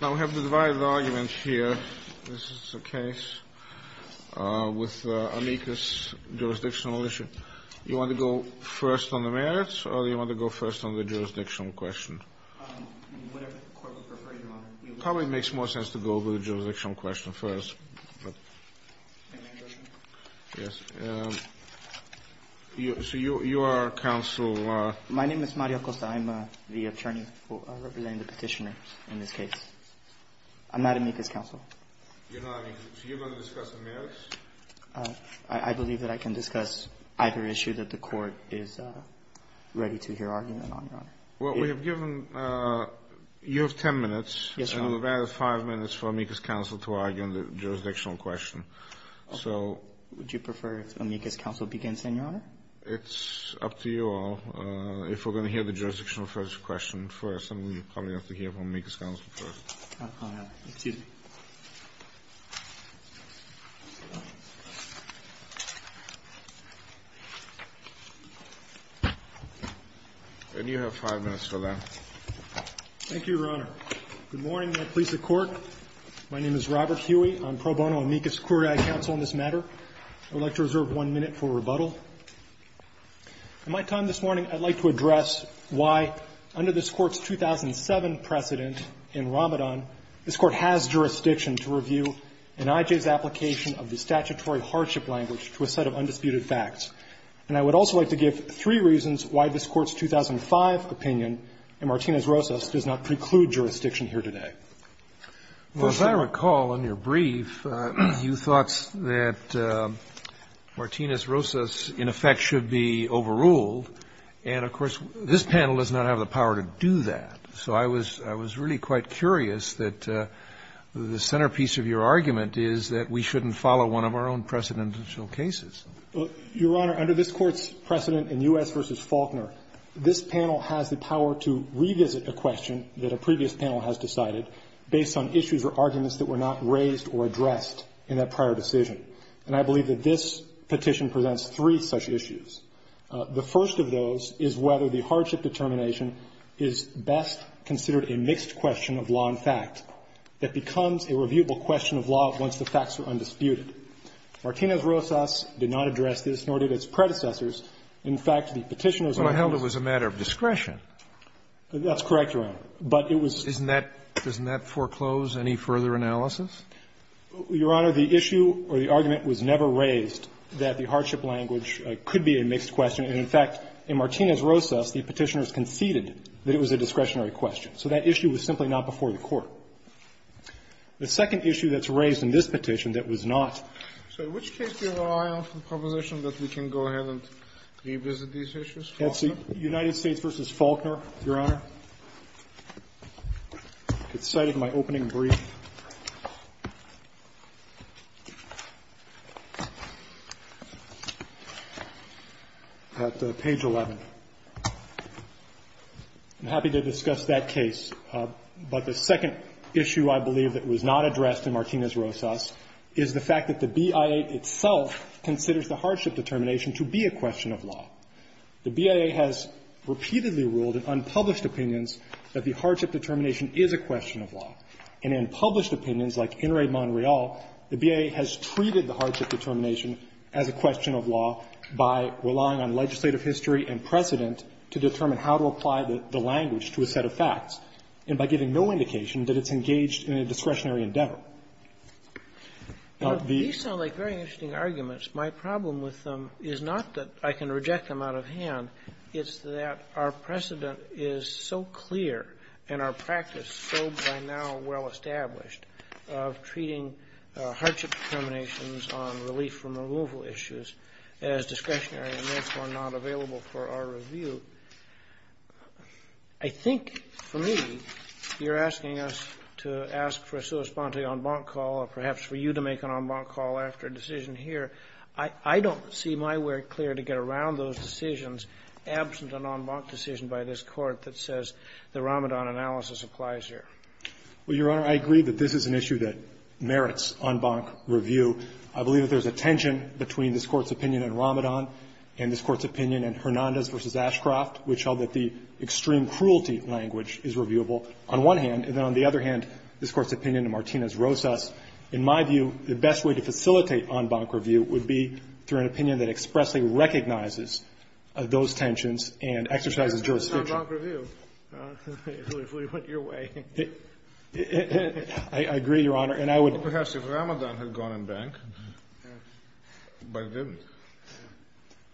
Now we have the divided argument here. This is a case with amicus jurisdictional issue. Do you want to go first on the merits or do you want to go first on the jurisdictional question? Whatever the court would prefer, Your Honor. It probably makes more sense to go with the jurisdictional question first. So you are counsel? My name is Mario Costa. I'm the attorney representing the petitioner in this case. I'm not amicus counsel. So you're going to discuss the merits? I believe that I can discuss either issue that the court is ready to hear argument on, Your Honor. Well, we have given you 10 minutes. Yes, Your Honor. And we have five minutes for amicus counsel to argue on the jurisdictional question. So would you prefer if amicus counsel begins, then, Your Honor? It's up to you all. If we're going to hear the jurisdictional first question first, then we probably have to hear from amicus counsel first. Excuse me. Thank you, Your Honor. Good morning, my police of court. My name is Robert Huey. I'm pro bono amicus query counsel in this matter. I would like to reserve one minute for rebuttal. In my time this morning, I'd like to address why, under this Court's 2007 precedent in Ramadan, this Court has jurisdiction to review an IJ's application of the statutory hardship language to a set of undisputed facts. And I would also like to give three reasons why this Court's 2005 opinion in Martinez-Rosas does not preclude jurisdiction here today. Well, as I recall in your brief, you thought that Martinez-Rosas, in effect, should be overruled. And, of course, this panel does not have the power to do that. So I was really quite curious that the centerpiece of your argument is that we shouldn't follow one of our own precedential cases. Your Honor, under this Court's precedent in U.S. v. Faulkner, this panel has the power to revisit a question that a previous panel has decided based on issues or arguments that were not raised or addressed in that prior decision. And I believe that this petition presents three such issues. The first of those is whether the hardship determination is best considered a mixed question of law and fact, that becomes a reviewable question of law once the facts are undisputed. Martinez-Rosas did not address this, nor did its predecessors. In fact, the Petitioner's argument was a matter of discretion. That's correct, Your Honor. But it was. Isn't that doesn't that foreclose any further analysis? Your Honor, the issue or the argument was never raised that the hardship language could be a mixed question. And, in fact, in Martinez-Rosas, the Petitioner's conceded that it was a discretionary question. So that issue was simply not before the Court. The second issue that's raised in this petition that was not. So which case do you have your eye on for the proposition that we can go ahead and revisit these issues? United States v. Faulkner, Your Honor. It's cited in my opening brief. At page 11. I'm happy to discuss that case. But the second issue, I believe, that was not addressed in Martinez-Rosas is the fact that the BIA itself considers the hardship determination to be a question of law. The BIA has repeatedly ruled in unpublished opinions that the hardship determination is a question of law. And in published opinions, like In re Mon Real, the BIA has treated the hardship determination as a question of law by relying on legislative history and precedent to determine how to apply the language to a set of facts, and by giving no indication that it's engaged in a discretionary endeavor. These sound like very interesting arguments. My problem with them is not that I can reject them out of hand. It's that our precedent is so clear and our practice so by now well established of treating hardship determinations on relief from removal issues as discretionary and, therefore, not available for our review. I think, for me, you're asking us to ask for a sua sponte en banc call or perhaps for you to make an en banc call after a decision here. I don't see my work clear to get around those decisions absent an en banc decision by this Court that says the Ramadan analysis applies here. Well, Your Honor, I agree that this is an issue that merits en banc review. I believe that there's a tension between this Court's opinion in Ramadan and this draft, which held that the extreme cruelty language is reviewable on one hand, and then on the other hand, this Court's opinion in Martinez-Rosas. In my view, the best way to facilitate en banc review would be through an opinion that expressly recognizes those tensions and exercises jurisdiction. It's not en banc review. It literally went your way. I agree, Your Honor, and I would — Perhaps if Ramadan had gone en banc, but it didn't.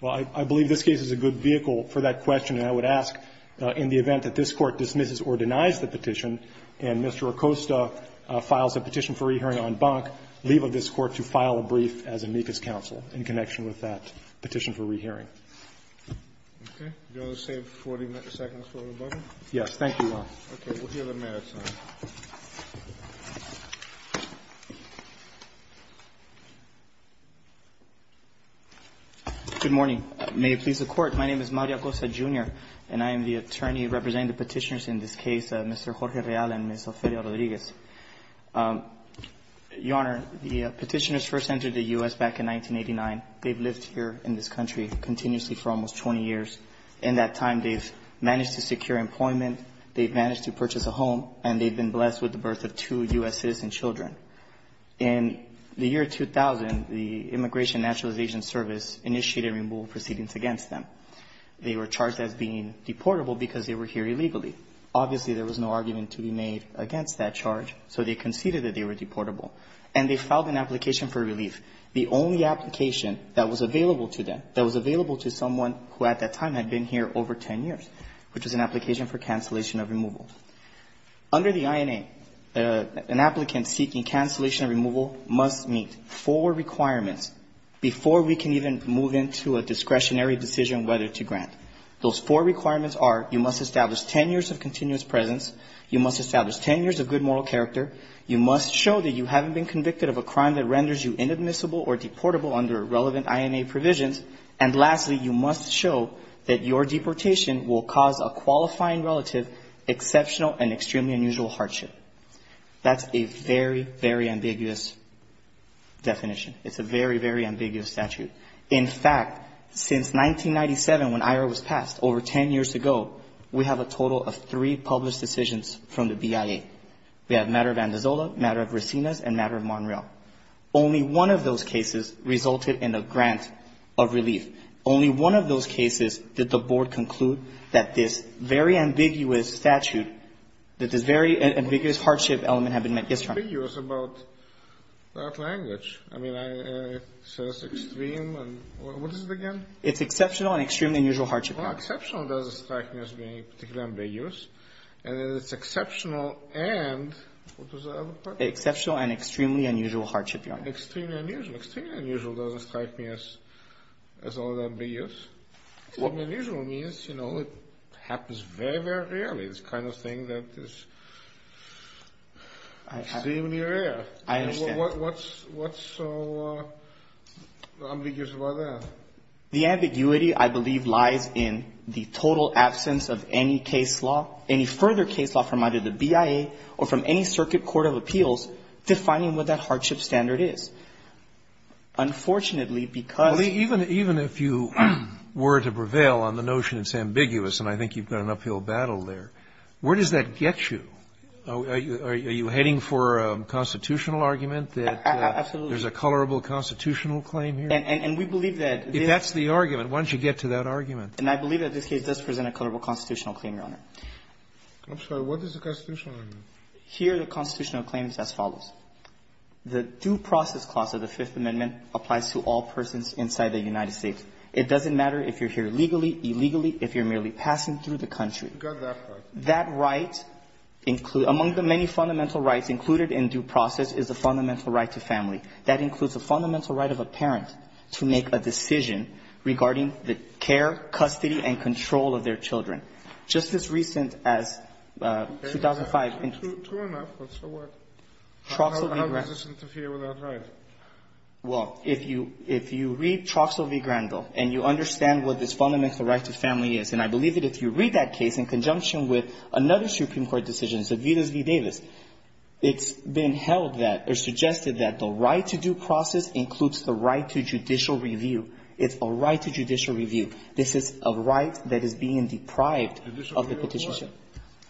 Well, I believe this case is a good vehicle for that question, and I would ask, in the event that this Court dismisses or denies the petition, and Mr. Acosta files a petition for re-hearing en banc, leave of this Court to file a brief as amicus counsel in connection with that petition for re-hearing. Okay. Do you want to save 40 seconds for rebuttal? Thank you, Your Honor. We'll give him a minute, sir. Good morning. May it please the Court, my name is Mario Acosta, Jr., and I am the attorney representing the petitioners in this case, Mr. Jorge Real and Ms. Ophelia Rodriguez. Your Honor, the petitioners first entered the U.S. back in 1989. They've lived here in this country continuously for almost 20 years. In that time, they've managed to secure employment. They've managed to purchase a home, and they've been blessed with the birth of two U.S. citizen children. In the year 2000, the Immigration Naturalization Service initiated removal proceedings against them. They were charged as being deportable because they were here illegally. Obviously, there was no argument to be made against that charge, so they conceded that they were deportable. And they filed an application for relief, the only application that was available to them, that was available to someone who at that time had been here over 10 years, which was an application for cancellation of removal. Under the INA, an applicant seeking cancellation of removal must meet four requirements before we can even move into a discretionary decision whether to grant. Those four requirements are you must establish 10 years of continuous presence, you must establish 10 years of good moral character, you must show that you haven't been convicted of a crime that renders you inadmissible or deportable under relevant INA provisions, and lastly, you must show that your deportation will cause a qualifying relative exceptional and extremely unusual hardship. That's a very, very ambiguous definition. It's a very, very ambiguous statute. In fact, since 1997, when IRA was passed, over 10 years ago, we have a total of three published decisions from the BIA. We have a matter of Andazola, a matter of Resinas, and a matter of Monreal. Only one of those cases resulted in a grant of relief. Only one of those cases did the Board conclude that this very ambiguous statute, that this very ambiguous hardship element had been met. Yes, Your Honor. It's ambiguous about that language. I mean, it says extreme, and what is it again? It's exceptional and extremely unusual hardship. Well, exceptional does strike me as being particularly ambiguous, and then it's exceptional and what was the other part? Exceptional and extremely unusual hardship, Your Honor. Extremely unusual. Extremely unusual doesn't strike me as all that ambiguous. What unusual means, you know, it happens very, very rarely. It's the kind of thing that is extremely rare. I understand. What's so ambiguous about that? The ambiguity, I believe, lies in the total absence of any case law, from either the BIA or from any circuit court of appeals, defining what that hardship standard is. Unfortunately, because the ---- Well, even if you were to prevail on the notion it's ambiguous, and I think you've got an uphill battle there, where does that get you? Are you heading for a constitutional argument that there's a colorable constitutional claim here? And we believe that this ---- If that's the argument, why don't you get to that argument? And I believe that this case does present a colorable constitutional claim, Your Honor. I'm sorry. What is the constitutional argument? Here the constitutional claim is as follows. The due process clause of the Fifth Amendment applies to all persons inside the United States. It doesn't matter if you're here legally, illegally, if you're merely passing through the country. You've got that right. That right includes ---- among the many fundamental rights included in due process is the fundamental right to family. That includes the fundamental right of a parent to make a decision regarding the care, custody, and control of their children. Just as recent as 2005 ---- True enough, but so what? How does this interfere with that right? Well, if you read Troxell v. Grandel and you understand what this fundamental right to family is, and I believe that if you read that case in conjunction with another Supreme Court decision, Savitas v. Davis, it's been held that or suggested that the right to due process includes the right to judicial review. It's a right to judicial review. This is a right that is being deprived of the petition. Judicial review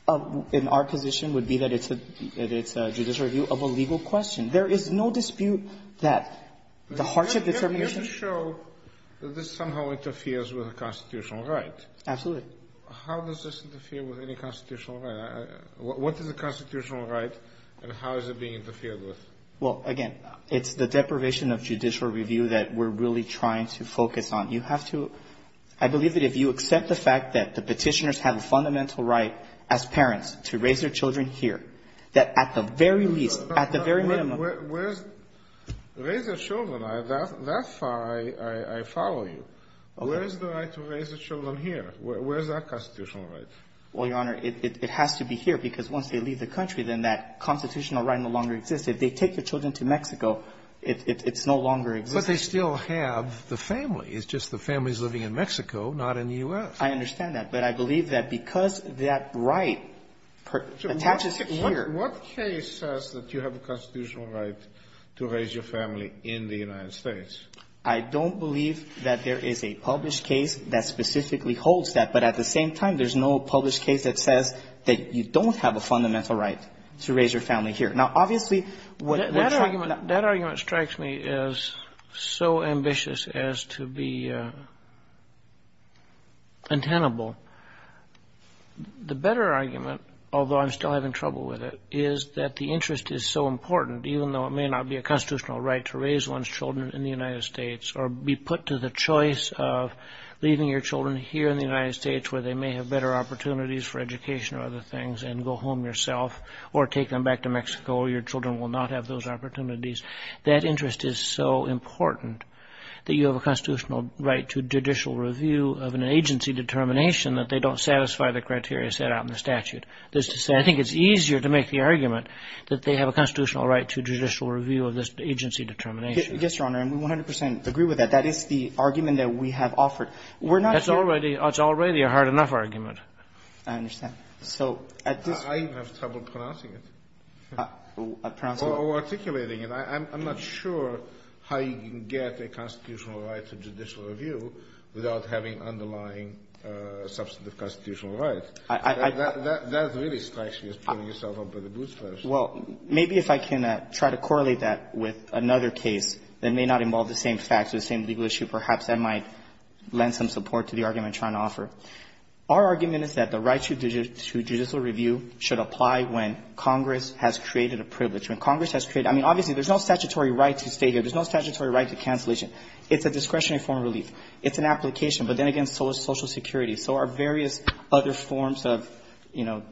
of what? In our position would be that it's a judicial review of a legal question. There is no dispute that the hardship determination ---- Let me just show that this somehow interferes with a constitutional right. Absolutely. How does this interfere with any constitutional right? What is a constitutional right and how is it being interfered with? Well, again, it's the deprivation of judicial review that we're really trying to focus on. You have to ---- I believe that if you accept the fact that the Petitioners have a fundamental right as parents to raise their children here, that at the very least, at the very minimum ---- Where is the right to raise their children? That far I follow you. Where is the right to raise their children here? Where is that constitutional right? Well, Your Honor, it has to be here because once they leave the country, then that constitutional right no longer exists. If they take their children to Mexico, it's no longer existing. But they still have the family. It's just the family is living in Mexico, not in the U.S. I understand that. But I believe that because that right attaches here ---- What case says that you have a constitutional right to raise your family in the United States? I don't believe that there is a published case that specifically holds that. But at the same time, there's no published case that says that you don't have a fundamental right to raise your family here. Now, obviously, what ---- That argument strikes me as so ambitious as to be untenable. The better argument, although I'm still having trouble with it, is that the interest is so important, even though it may not be a constitutional right to raise one's children in the United States or be put to the choice of leaving your children here in the United States where they may have better opportunities for education or other things and go home yourself or take them back to Mexico where your children will not have those opportunities. That interest is so important that you have a constitutional right to judicial review of an agency determination that they don't satisfy the criteria set out in the statute. That is to say, I think it's easier to make the argument that they have a constitutional right to judicial review of this agency determination. Yes, Your Honor, and we 100 percent agree with that. That is the argument that we have offered. We're not here ---- That's already a hard enough argument. I understand. So at this ---- I have trouble pronouncing it. Or articulating it. I'm not sure how you can get a constitutional right to judicial review without having underlying substantive constitutional rights. That really strikes me as pulling yourself up by the boots first. Well, maybe if I can try to correlate that with another case that may not involve the same facts or the same legal issue, perhaps I might lend some support to the argument that I'm trying to offer. Our argument is that the right to judicial review should apply when Congress has created a privilege. When Congress has created ---- I mean, obviously, there's no statutory right to stay here. There's no statutory right to cancellation. It's a discretionary form of relief. It's an application. But then again, social security. So our various other forms of, you know,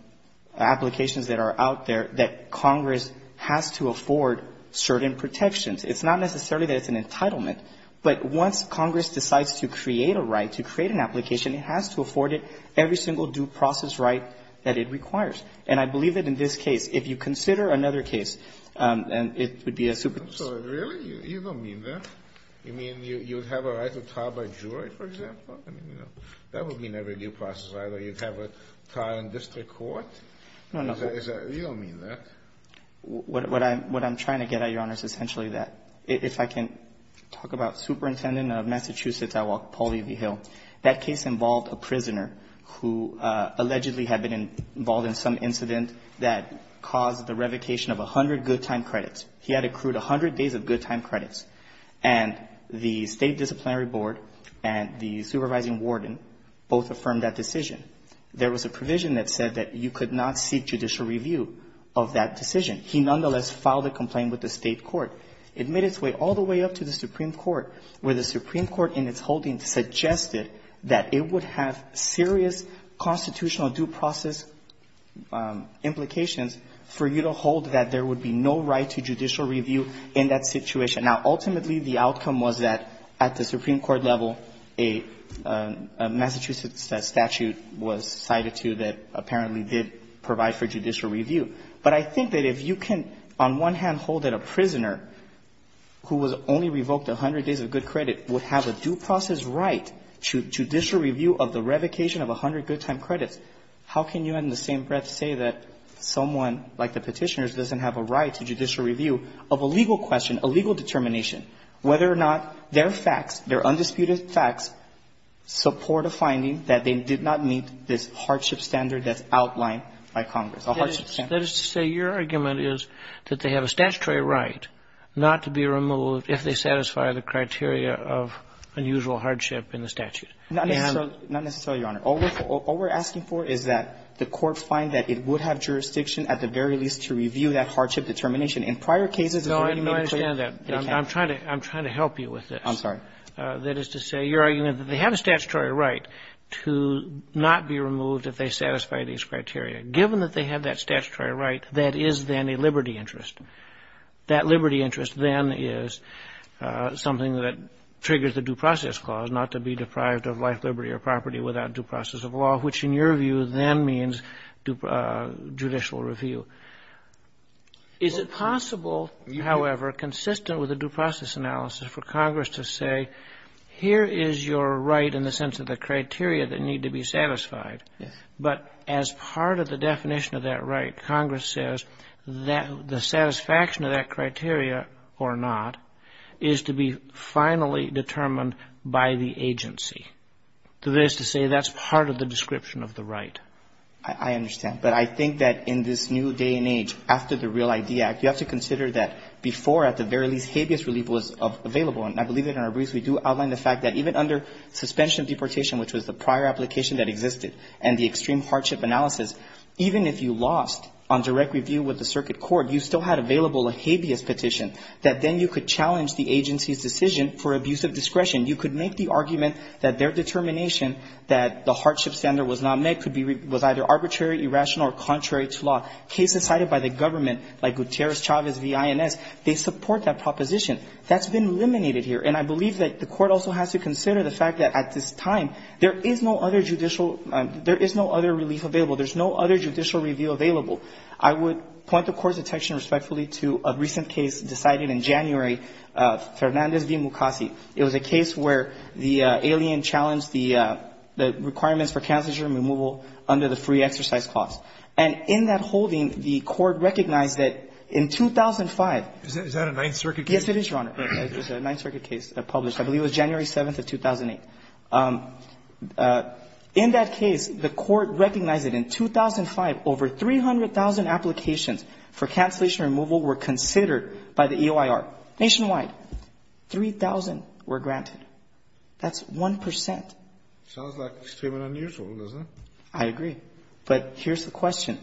applications that are out there that Congress has to afford certain protections. It's not necessarily that it's an entitlement. But once Congress decides to create a right, to create an application, it has to afford it every single due process right that it requires. And I believe that in this case, if you consider another case, it would be a ---- Really? You don't mean that? You mean you would have a right to trial by jury, for example? I mean, you know, that would mean every due process right. Or you'd have a trial in district court? You don't mean that. What I'm trying to get at, Your Honor, is essentially that. If I can talk about Superintendent of Massachusetts, I want Paul E. V. Hill. That case involved a prisoner who allegedly had been involved in some incident that caused the revocation of 100 good time credits. He had accrued 100 days of good time credits. And the State Disciplinary Board and the supervising warden both affirmed that decision. There was a provision that said that you could not seek judicial review of that decision. He nonetheless filed a complaint with the State court. It made its way all the way up to the Supreme Court, where the Supreme Court in its holding suggested that it would have serious constitutional due process implications for you to hold that there would be no right to judicial review in that situation. Now, ultimately, the outcome was that at the Supreme Court level, a Massachusetts statute was cited to that apparently did provide for judicial review. But I think that if you can, on one hand, hold that a prisoner who was only revoked 100 days of good credit would have a due process right to judicial review of the revocation of 100 good time credits, how can you in the same breath say that someone like the Petitioners doesn't have a right to judicial review of a legal question, a legal determination, whether or not their facts, their undisputed facts, support a finding that they did not meet this hardship standard that's outlined by Congress, a hardship standard? That is to say, your argument is that they have a statutory right not to be removed if they satisfy the criteria of unusual hardship in the statute. Not necessarily, Your Honor. All we're asking for is that the court find that it would have jurisdiction at the very least to review that hardship determination. In prior cases, it's already been clear. No, I understand that. I'm trying to help you with this. I'm sorry. That is to say, your argument is that they have a statutory right to not be removed if they satisfy these criteria. Given that they have that statutory right, that is then a liberty interest. That liberty interest then is something that triggers the due process clause, not to be deprived of life, liberty or property without due process of law, which in your view then means judicial review. Is it possible, however, consistent with the due process analysis for Congress to say, here is your right in the sense of the criteria that need to be satisfied. Yes. But as part of the definition of that right, Congress says that the satisfaction of that criteria or not is to be finally determined by the agency. That is to say, that's part of the description of the right. I understand. But I think that in this new day and age, after the REAL ID Act, you have to consider that before, at the very least, habeas relief was available. And I believe that in our briefs we do outline the fact that even under suspension of deportation, which was the prior application that existed, and the extreme hardship analysis, even if you lost on direct review with the circuit court, you still had available a habeas petition, that then you could challenge the agency's decision for abuse of discretion. You could make the argument that their determination that the hardship standard was not met could be either arbitrary, irrational or contrary to law. Cases cited by the government, like Gutierrez-Chavez v. INS, they support that proposition. That's been eliminated here. And I believe that the court also has to consider the fact that at this time, there is no other judicial — there is no other relief available. There's no other judicial review available. I would point the court's attention respectfully to a recent case decided in January, Fernandez v. Mukasey. It was a case where the alien challenged the requirements for cancer germ removal under the free exercise clause. And in that holding, the court recognized that in 2005 — Is that a Ninth Circuit case? Yes, it is, Your Honor. It was a Ninth Circuit case published, I believe it was January 7th of 2008. In that case, the court recognized that in 2005, over 300,000 applications for cancellation removal were considered by the EOIR nationwide. Three thousand were granted. That's 1 percent. Sounds like extremely unusual, doesn't it? I agree. But here's the question.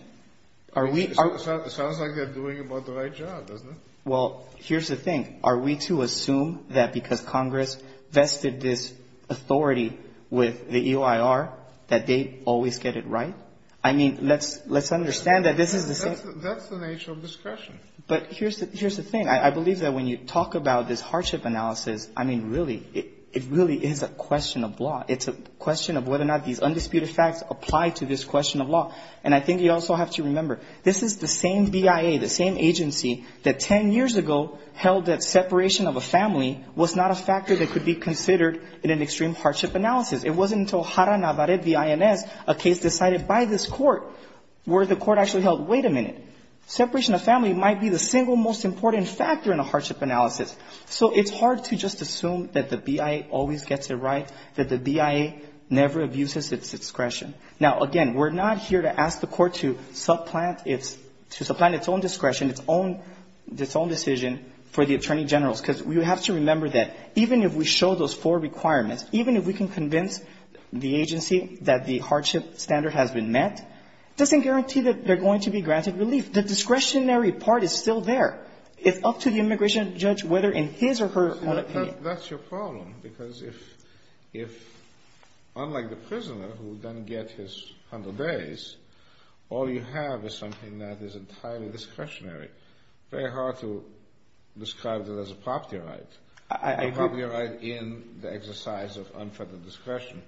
Are we — It sounds like they're doing about the right job, doesn't it? Well, here's the thing. Are we to assume that because Congress vested this authority with the EOIR that they always get it right? I mean, let's understand that this is the same — That's the nature of discretion. But here's the thing. I believe that when you talk about this hardship analysis, I mean, really, it really is a question of law. It's a question of whether or not these undisputed facts apply to this question of law. And I think you also have to remember, this is the same BIA, the same agency that 10 years ago held that separation of a family was not a factor that could be considered in an extreme hardship analysis. It wasn't until Jara Navarrete v. INS, a case decided by this court, where the court actually held, wait a minute, separation of family might be the single most important factor in a hardship analysis. So it's hard to just assume that the BIA always gets it right, that the BIA never abuses its discretion. Now, again, we're not here to ask the court to supplant its own discretion, its own decision for the attorney generals. Because you have to remember that even if we show those four requirements, even if we can convince the agency that the hardship standard has been met, it doesn't guarantee that they're going to be granted relief. The discretionary part is still there. It's up to the immigration judge, whether in his or her own opinion. But that's your problem. Because if, unlike the prisoner, who then gets his 100 days, all you have is something that is entirely discretionary. Very hard to describe that as a property right. I agree. A property right in the exercise of unfettered discretion.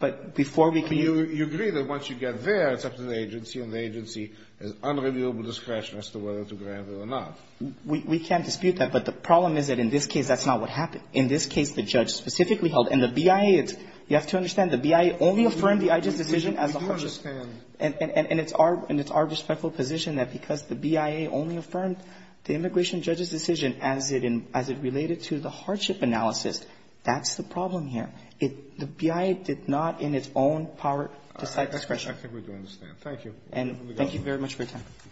But before we can use it. You agree that once you get there, it's up to the agency, and the agency has unreliable discretion as to whether to grant it or not. We can't dispute that. But the problem is that in this case, that's not what happened. In this case, the judge specifically held. And the BIA, you have to understand, the BIA only affirmed the IGES decision as the hardship. And it's our respectful position that because the BIA only affirmed the immigration judge's decision as it related to the hardship analysis, that's the problem here. The BIA did not in its own power decide discretion. I think we do understand. Thank you. And thank you very much for your time. Thank you.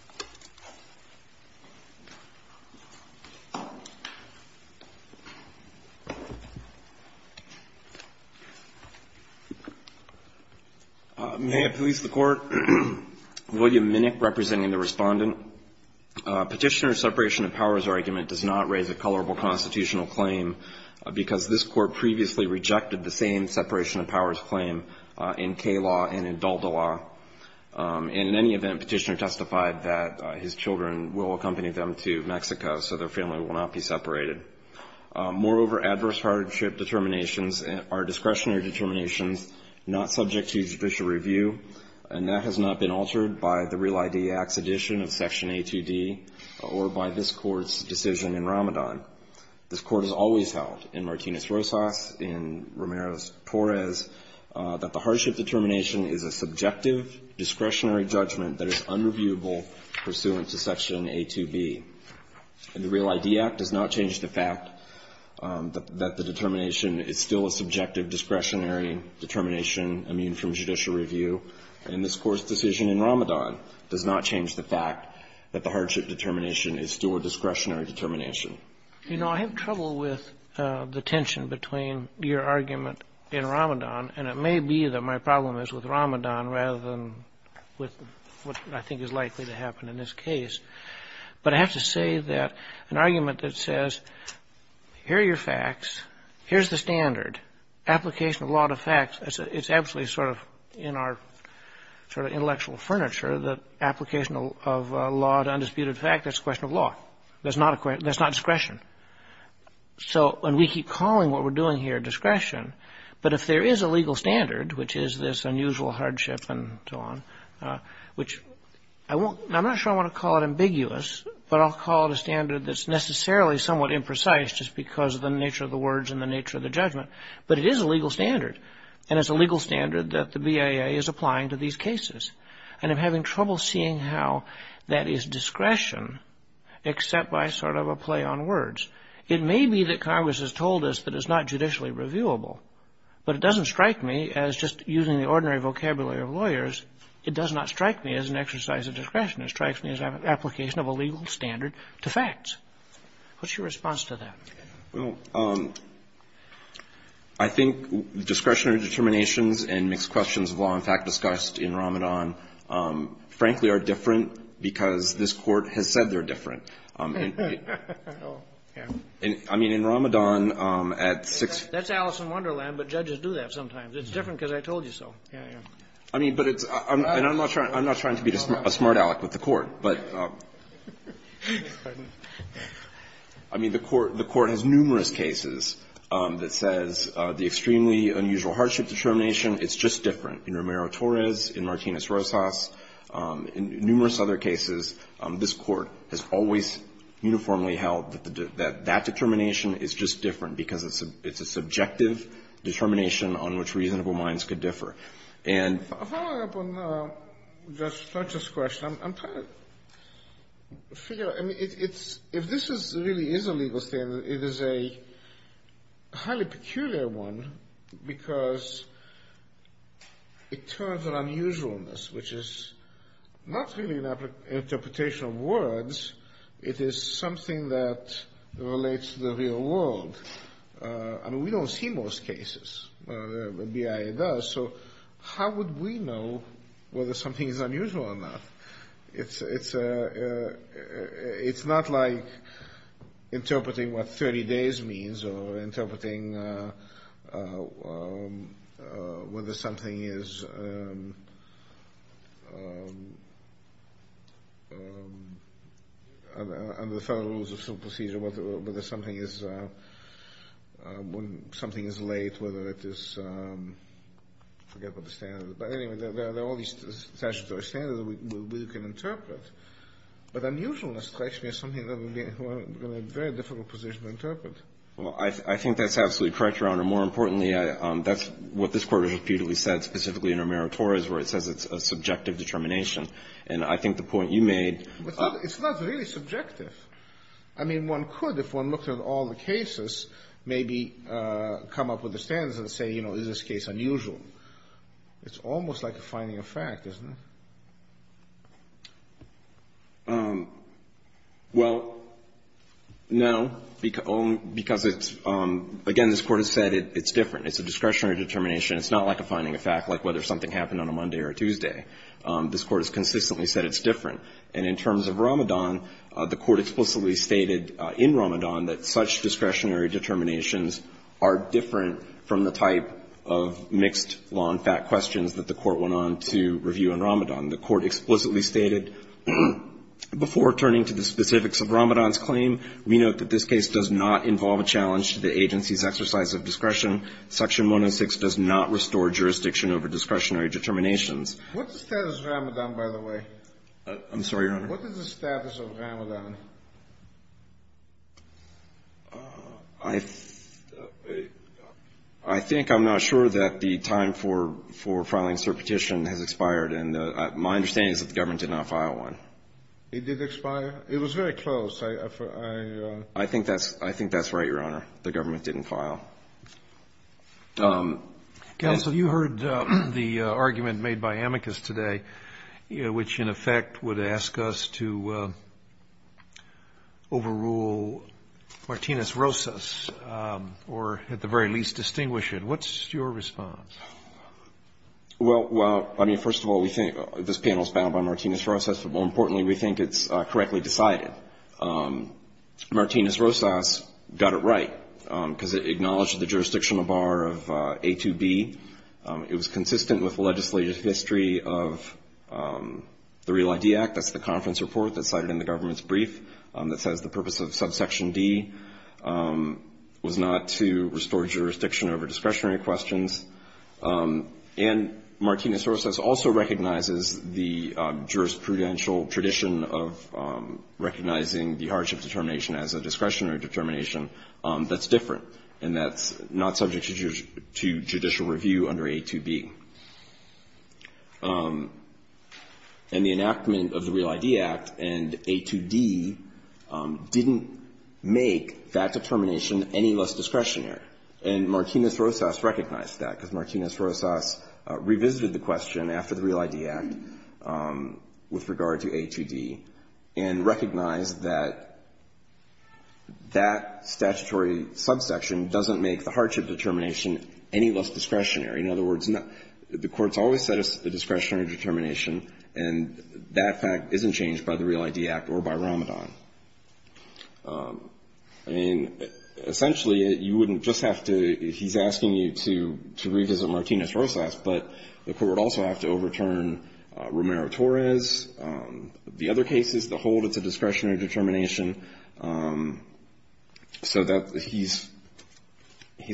May it please the Court. William Minnick representing the Respondent. Petitioner's separation of powers argument does not raise a colorable constitutional claim because this Court previously rejected the same separation of powers claim in Kaye law and in Dalda law. And in any event, Petitioner testified that his children will accompany them to Mexico so their family will not be separated. Moreover, adverse hardship determinations are discretionary determinations not subject to judicial review. And that has not been altered by the Real ID Act's addition of Section A2D or by this Court's decision in Ramadan. This Court has always held in Martinez-Rosas, in Romero's Torres, that the hardship determination is a subjective discretionary judgment that is unreviewable pursuant to Section A2B. And the Real ID Act does not change the fact that the determination is still a subjective discretionary determination immune from judicial review. And this Court's decision in Ramadan does not change the fact that the hardship determination is still a discretionary determination. You know, I have trouble with the tension between your argument in Ramadan, and it may be that my problem is with Ramadan rather than with what I think is likely to happen in this case. But I have to say that an argument that says, here are your facts, here's the standard, application of law to facts, it's absolutely sort of in our sort of intellectual furniture that application of law to undisputed fact, that's a question of law. That's not discretion. And we keep calling what we're doing here discretion, but if there is a legal standard, which is this unusual hardship and so on, which I'm not sure I want to call it ambiguous, but I'll call it a standard that's necessarily somewhat imprecise just because of the nature of the words and the nature of the judgment, but it is a legal standard. And it's a legal standard that the BIA is applying to these cases. And I'm having trouble seeing how that is discretion except by sort of a play on words. It may be that Congress has told us that it's not judicially reviewable, but it doesn't strike me as just using the ordinary vocabulary of lawyers. It does not strike me as an exercise of discretion. It strikes me as an application of a legal standard to facts. What's your response to that? Well, I think discretionary determinations and mixed questions of law and fact discussed in Ramadan, frankly, are different because this Court has said they're different. I mean, in Ramadan, at six ---- That's Alice in Wonderland, but judges do that sometimes. It's different because I told you so. Yeah, yeah. I mean, but it's ---- I'm not trying to be a smart aleck with the Court. But, I mean, the Court has numerous cases that says the extremely unusual hardship determination, it's just different. In Romero-Torres, in Martinez-Rosas, in numerous other cases, this Court has always uniformly held that that determination is just different because it's a subjective determination on which reasonable minds could differ. And ---- Following up on Judge Fletcher's question, I'm trying to figure out, I mean, it's ---- if this really is a legal standard, it is a highly peculiar one because it turns an unusualness, which is not really an interpretation of words. It is something that relates to the real world. I mean, we don't see most cases. BIA does. So how would we know whether something is unusual or not? It's not like interpreting what 30 days means or interpreting whether something is late, whether it is ---- I forget what the standard is. But anyway, there are all these statutory standards that we can interpret. But unusualness strikes me as something that would be in a very difficult position to interpret. Well, I think that's absolutely correct, Your Honor. More importantly, that's what this Court has repeatedly said, specifically in Romero-Torres, where it says it's a subjective determination. And I think the point you made ---- But it's not really subjective. I mean, one could, if one looked at all the cases, maybe come up with the standards and say, you know, is this case unusual? It's almost like a finding of fact, isn't it? Well, no, because it's ---- again, this Court has said it's different. It's a discretionary determination. It's not like a finding of fact, like whether something happened on a Monday or Tuesday. This Court has consistently said it's different. And in terms of Ramadan, the Court explicitly stated in Ramadan that such discretionary determinations are different from the type of mixed law and fact questions that the Court went on to review in Ramadan. The Court explicitly stated, before turning to the specifics of Ramadan's claim, we note that this case does not involve a challenge to the agency's exercise of discretion. Section 106 does not restore jurisdiction over discretionary determinations. What's the status of Ramadan, by the way? I'm sorry, Your Honor. What is the status of Ramadan? I think I'm not sure that the time for filing cert petition has expired. And my understanding is that the government did not file one. It did expire? It was very close. I ---- I think that's right, Your Honor. The government didn't file. Counsel, you heard the argument made by amicus today, which in effect would ask us to overrule Martinez-Rosas, or at the very least distinguish it. What's your response? Well, I mean, first of all, we think this panel is bound by Martinez-Rosas, but more importantly, we think it's correctly decided. Martinez-Rosas got it right because it acknowledged the jurisdictional bar of A2B. It was consistent with the legislative history of the Real ID Act. That's the conference report that's cited in the government's brief that says the purpose of subsection D was not to restore jurisdiction over discretionary questions. And Martinez-Rosas also recognizes the jurisprudential tradition of recognizing the hardship determination as a discretionary determination that's different and that's not subject to judicial review under A2B. And the enactment of the Real ID Act and A2D didn't make that determination any less discretionary, and Martinez-Rosas recognized that. Because Martinez-Rosas revisited the question after the Real ID Act with regard to A2D and recognized that that statutory subsection doesn't make the hardship determination any less discretionary. In other words, the Court's always said it's a discretionary determination, and that fact isn't changed by the Real ID Act or by Ramadan. And essentially, you wouldn't just have to — he's asking you to revisit Martinez-Rosas, but the Court would also have to overturn Romero-Torres. The other cases, the hold, it's a discretionary determination. So he's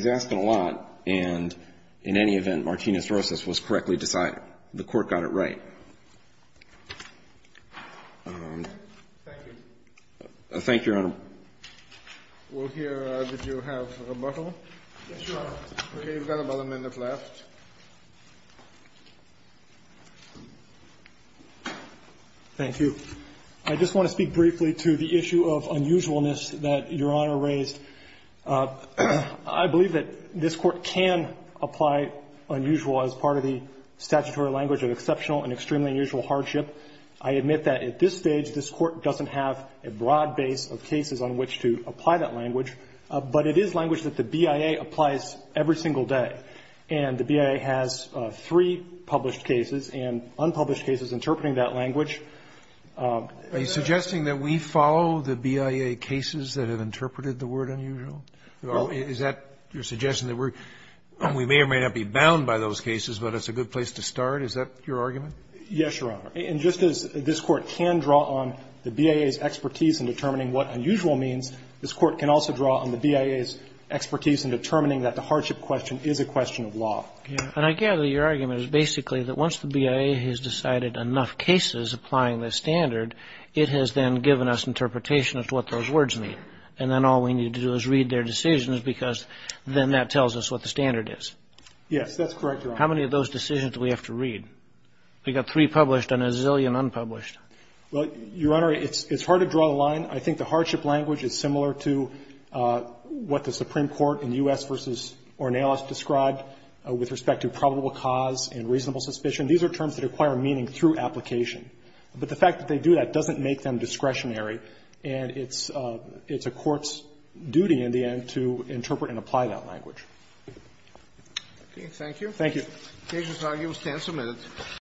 asking a lot, and in any event, Martinez-Rosas was correctly decided. The Court got it right. Thank you. Thank you, Your Honor. We'll hear. Did you have a rebuttal? Yes, Your Honor. Okay. We've got about a minute left. Thank you. I just want to speak briefly to the issue of unusualness that Your Honor raised. I believe that this Court can apply unusual as part of the statutory language of exceptional and extremely unusual hardship. I admit that at this stage, this Court doesn't have a broad base of cases on which to apply that language, but it is language that the BIA applies every single day. And the BIA has three published cases and unpublished cases interpreting that language. Are you suggesting that we follow the BIA cases that have interpreted the word unusual? No. Is that your suggestion, that we may or may not be bound by those cases, but it's a good place to start? Is that your argument? Yes, Your Honor. And just as this Court can draw on the BIA's expertise in determining what unusual means, this Court can also draw on the BIA's expertise in determining that the hardship question is a question of law. And I gather your argument is basically that once the BIA has decided enough cases applying this standard, it has then given us interpretation as to what those words mean. And then all we need to do is read their decisions because then that tells us what the standard is. Yes, that's correct, Your Honor. How many of those decisions do we have to read? We've got three published and a zillion unpublished. Well, Your Honor, it's hard to draw the line. I think the hardship language is similar to what the Supreme Court in U.S. v. Ornelas described with respect to probable cause and reasonable suspicion. These are terms that acquire meaning through application. But the fact that they do that doesn't make them discretionary, and it's a court's duty in the end to interpret and apply that language. Okay. Thank you. Thank you. The case is argued. We'll stand for a minute.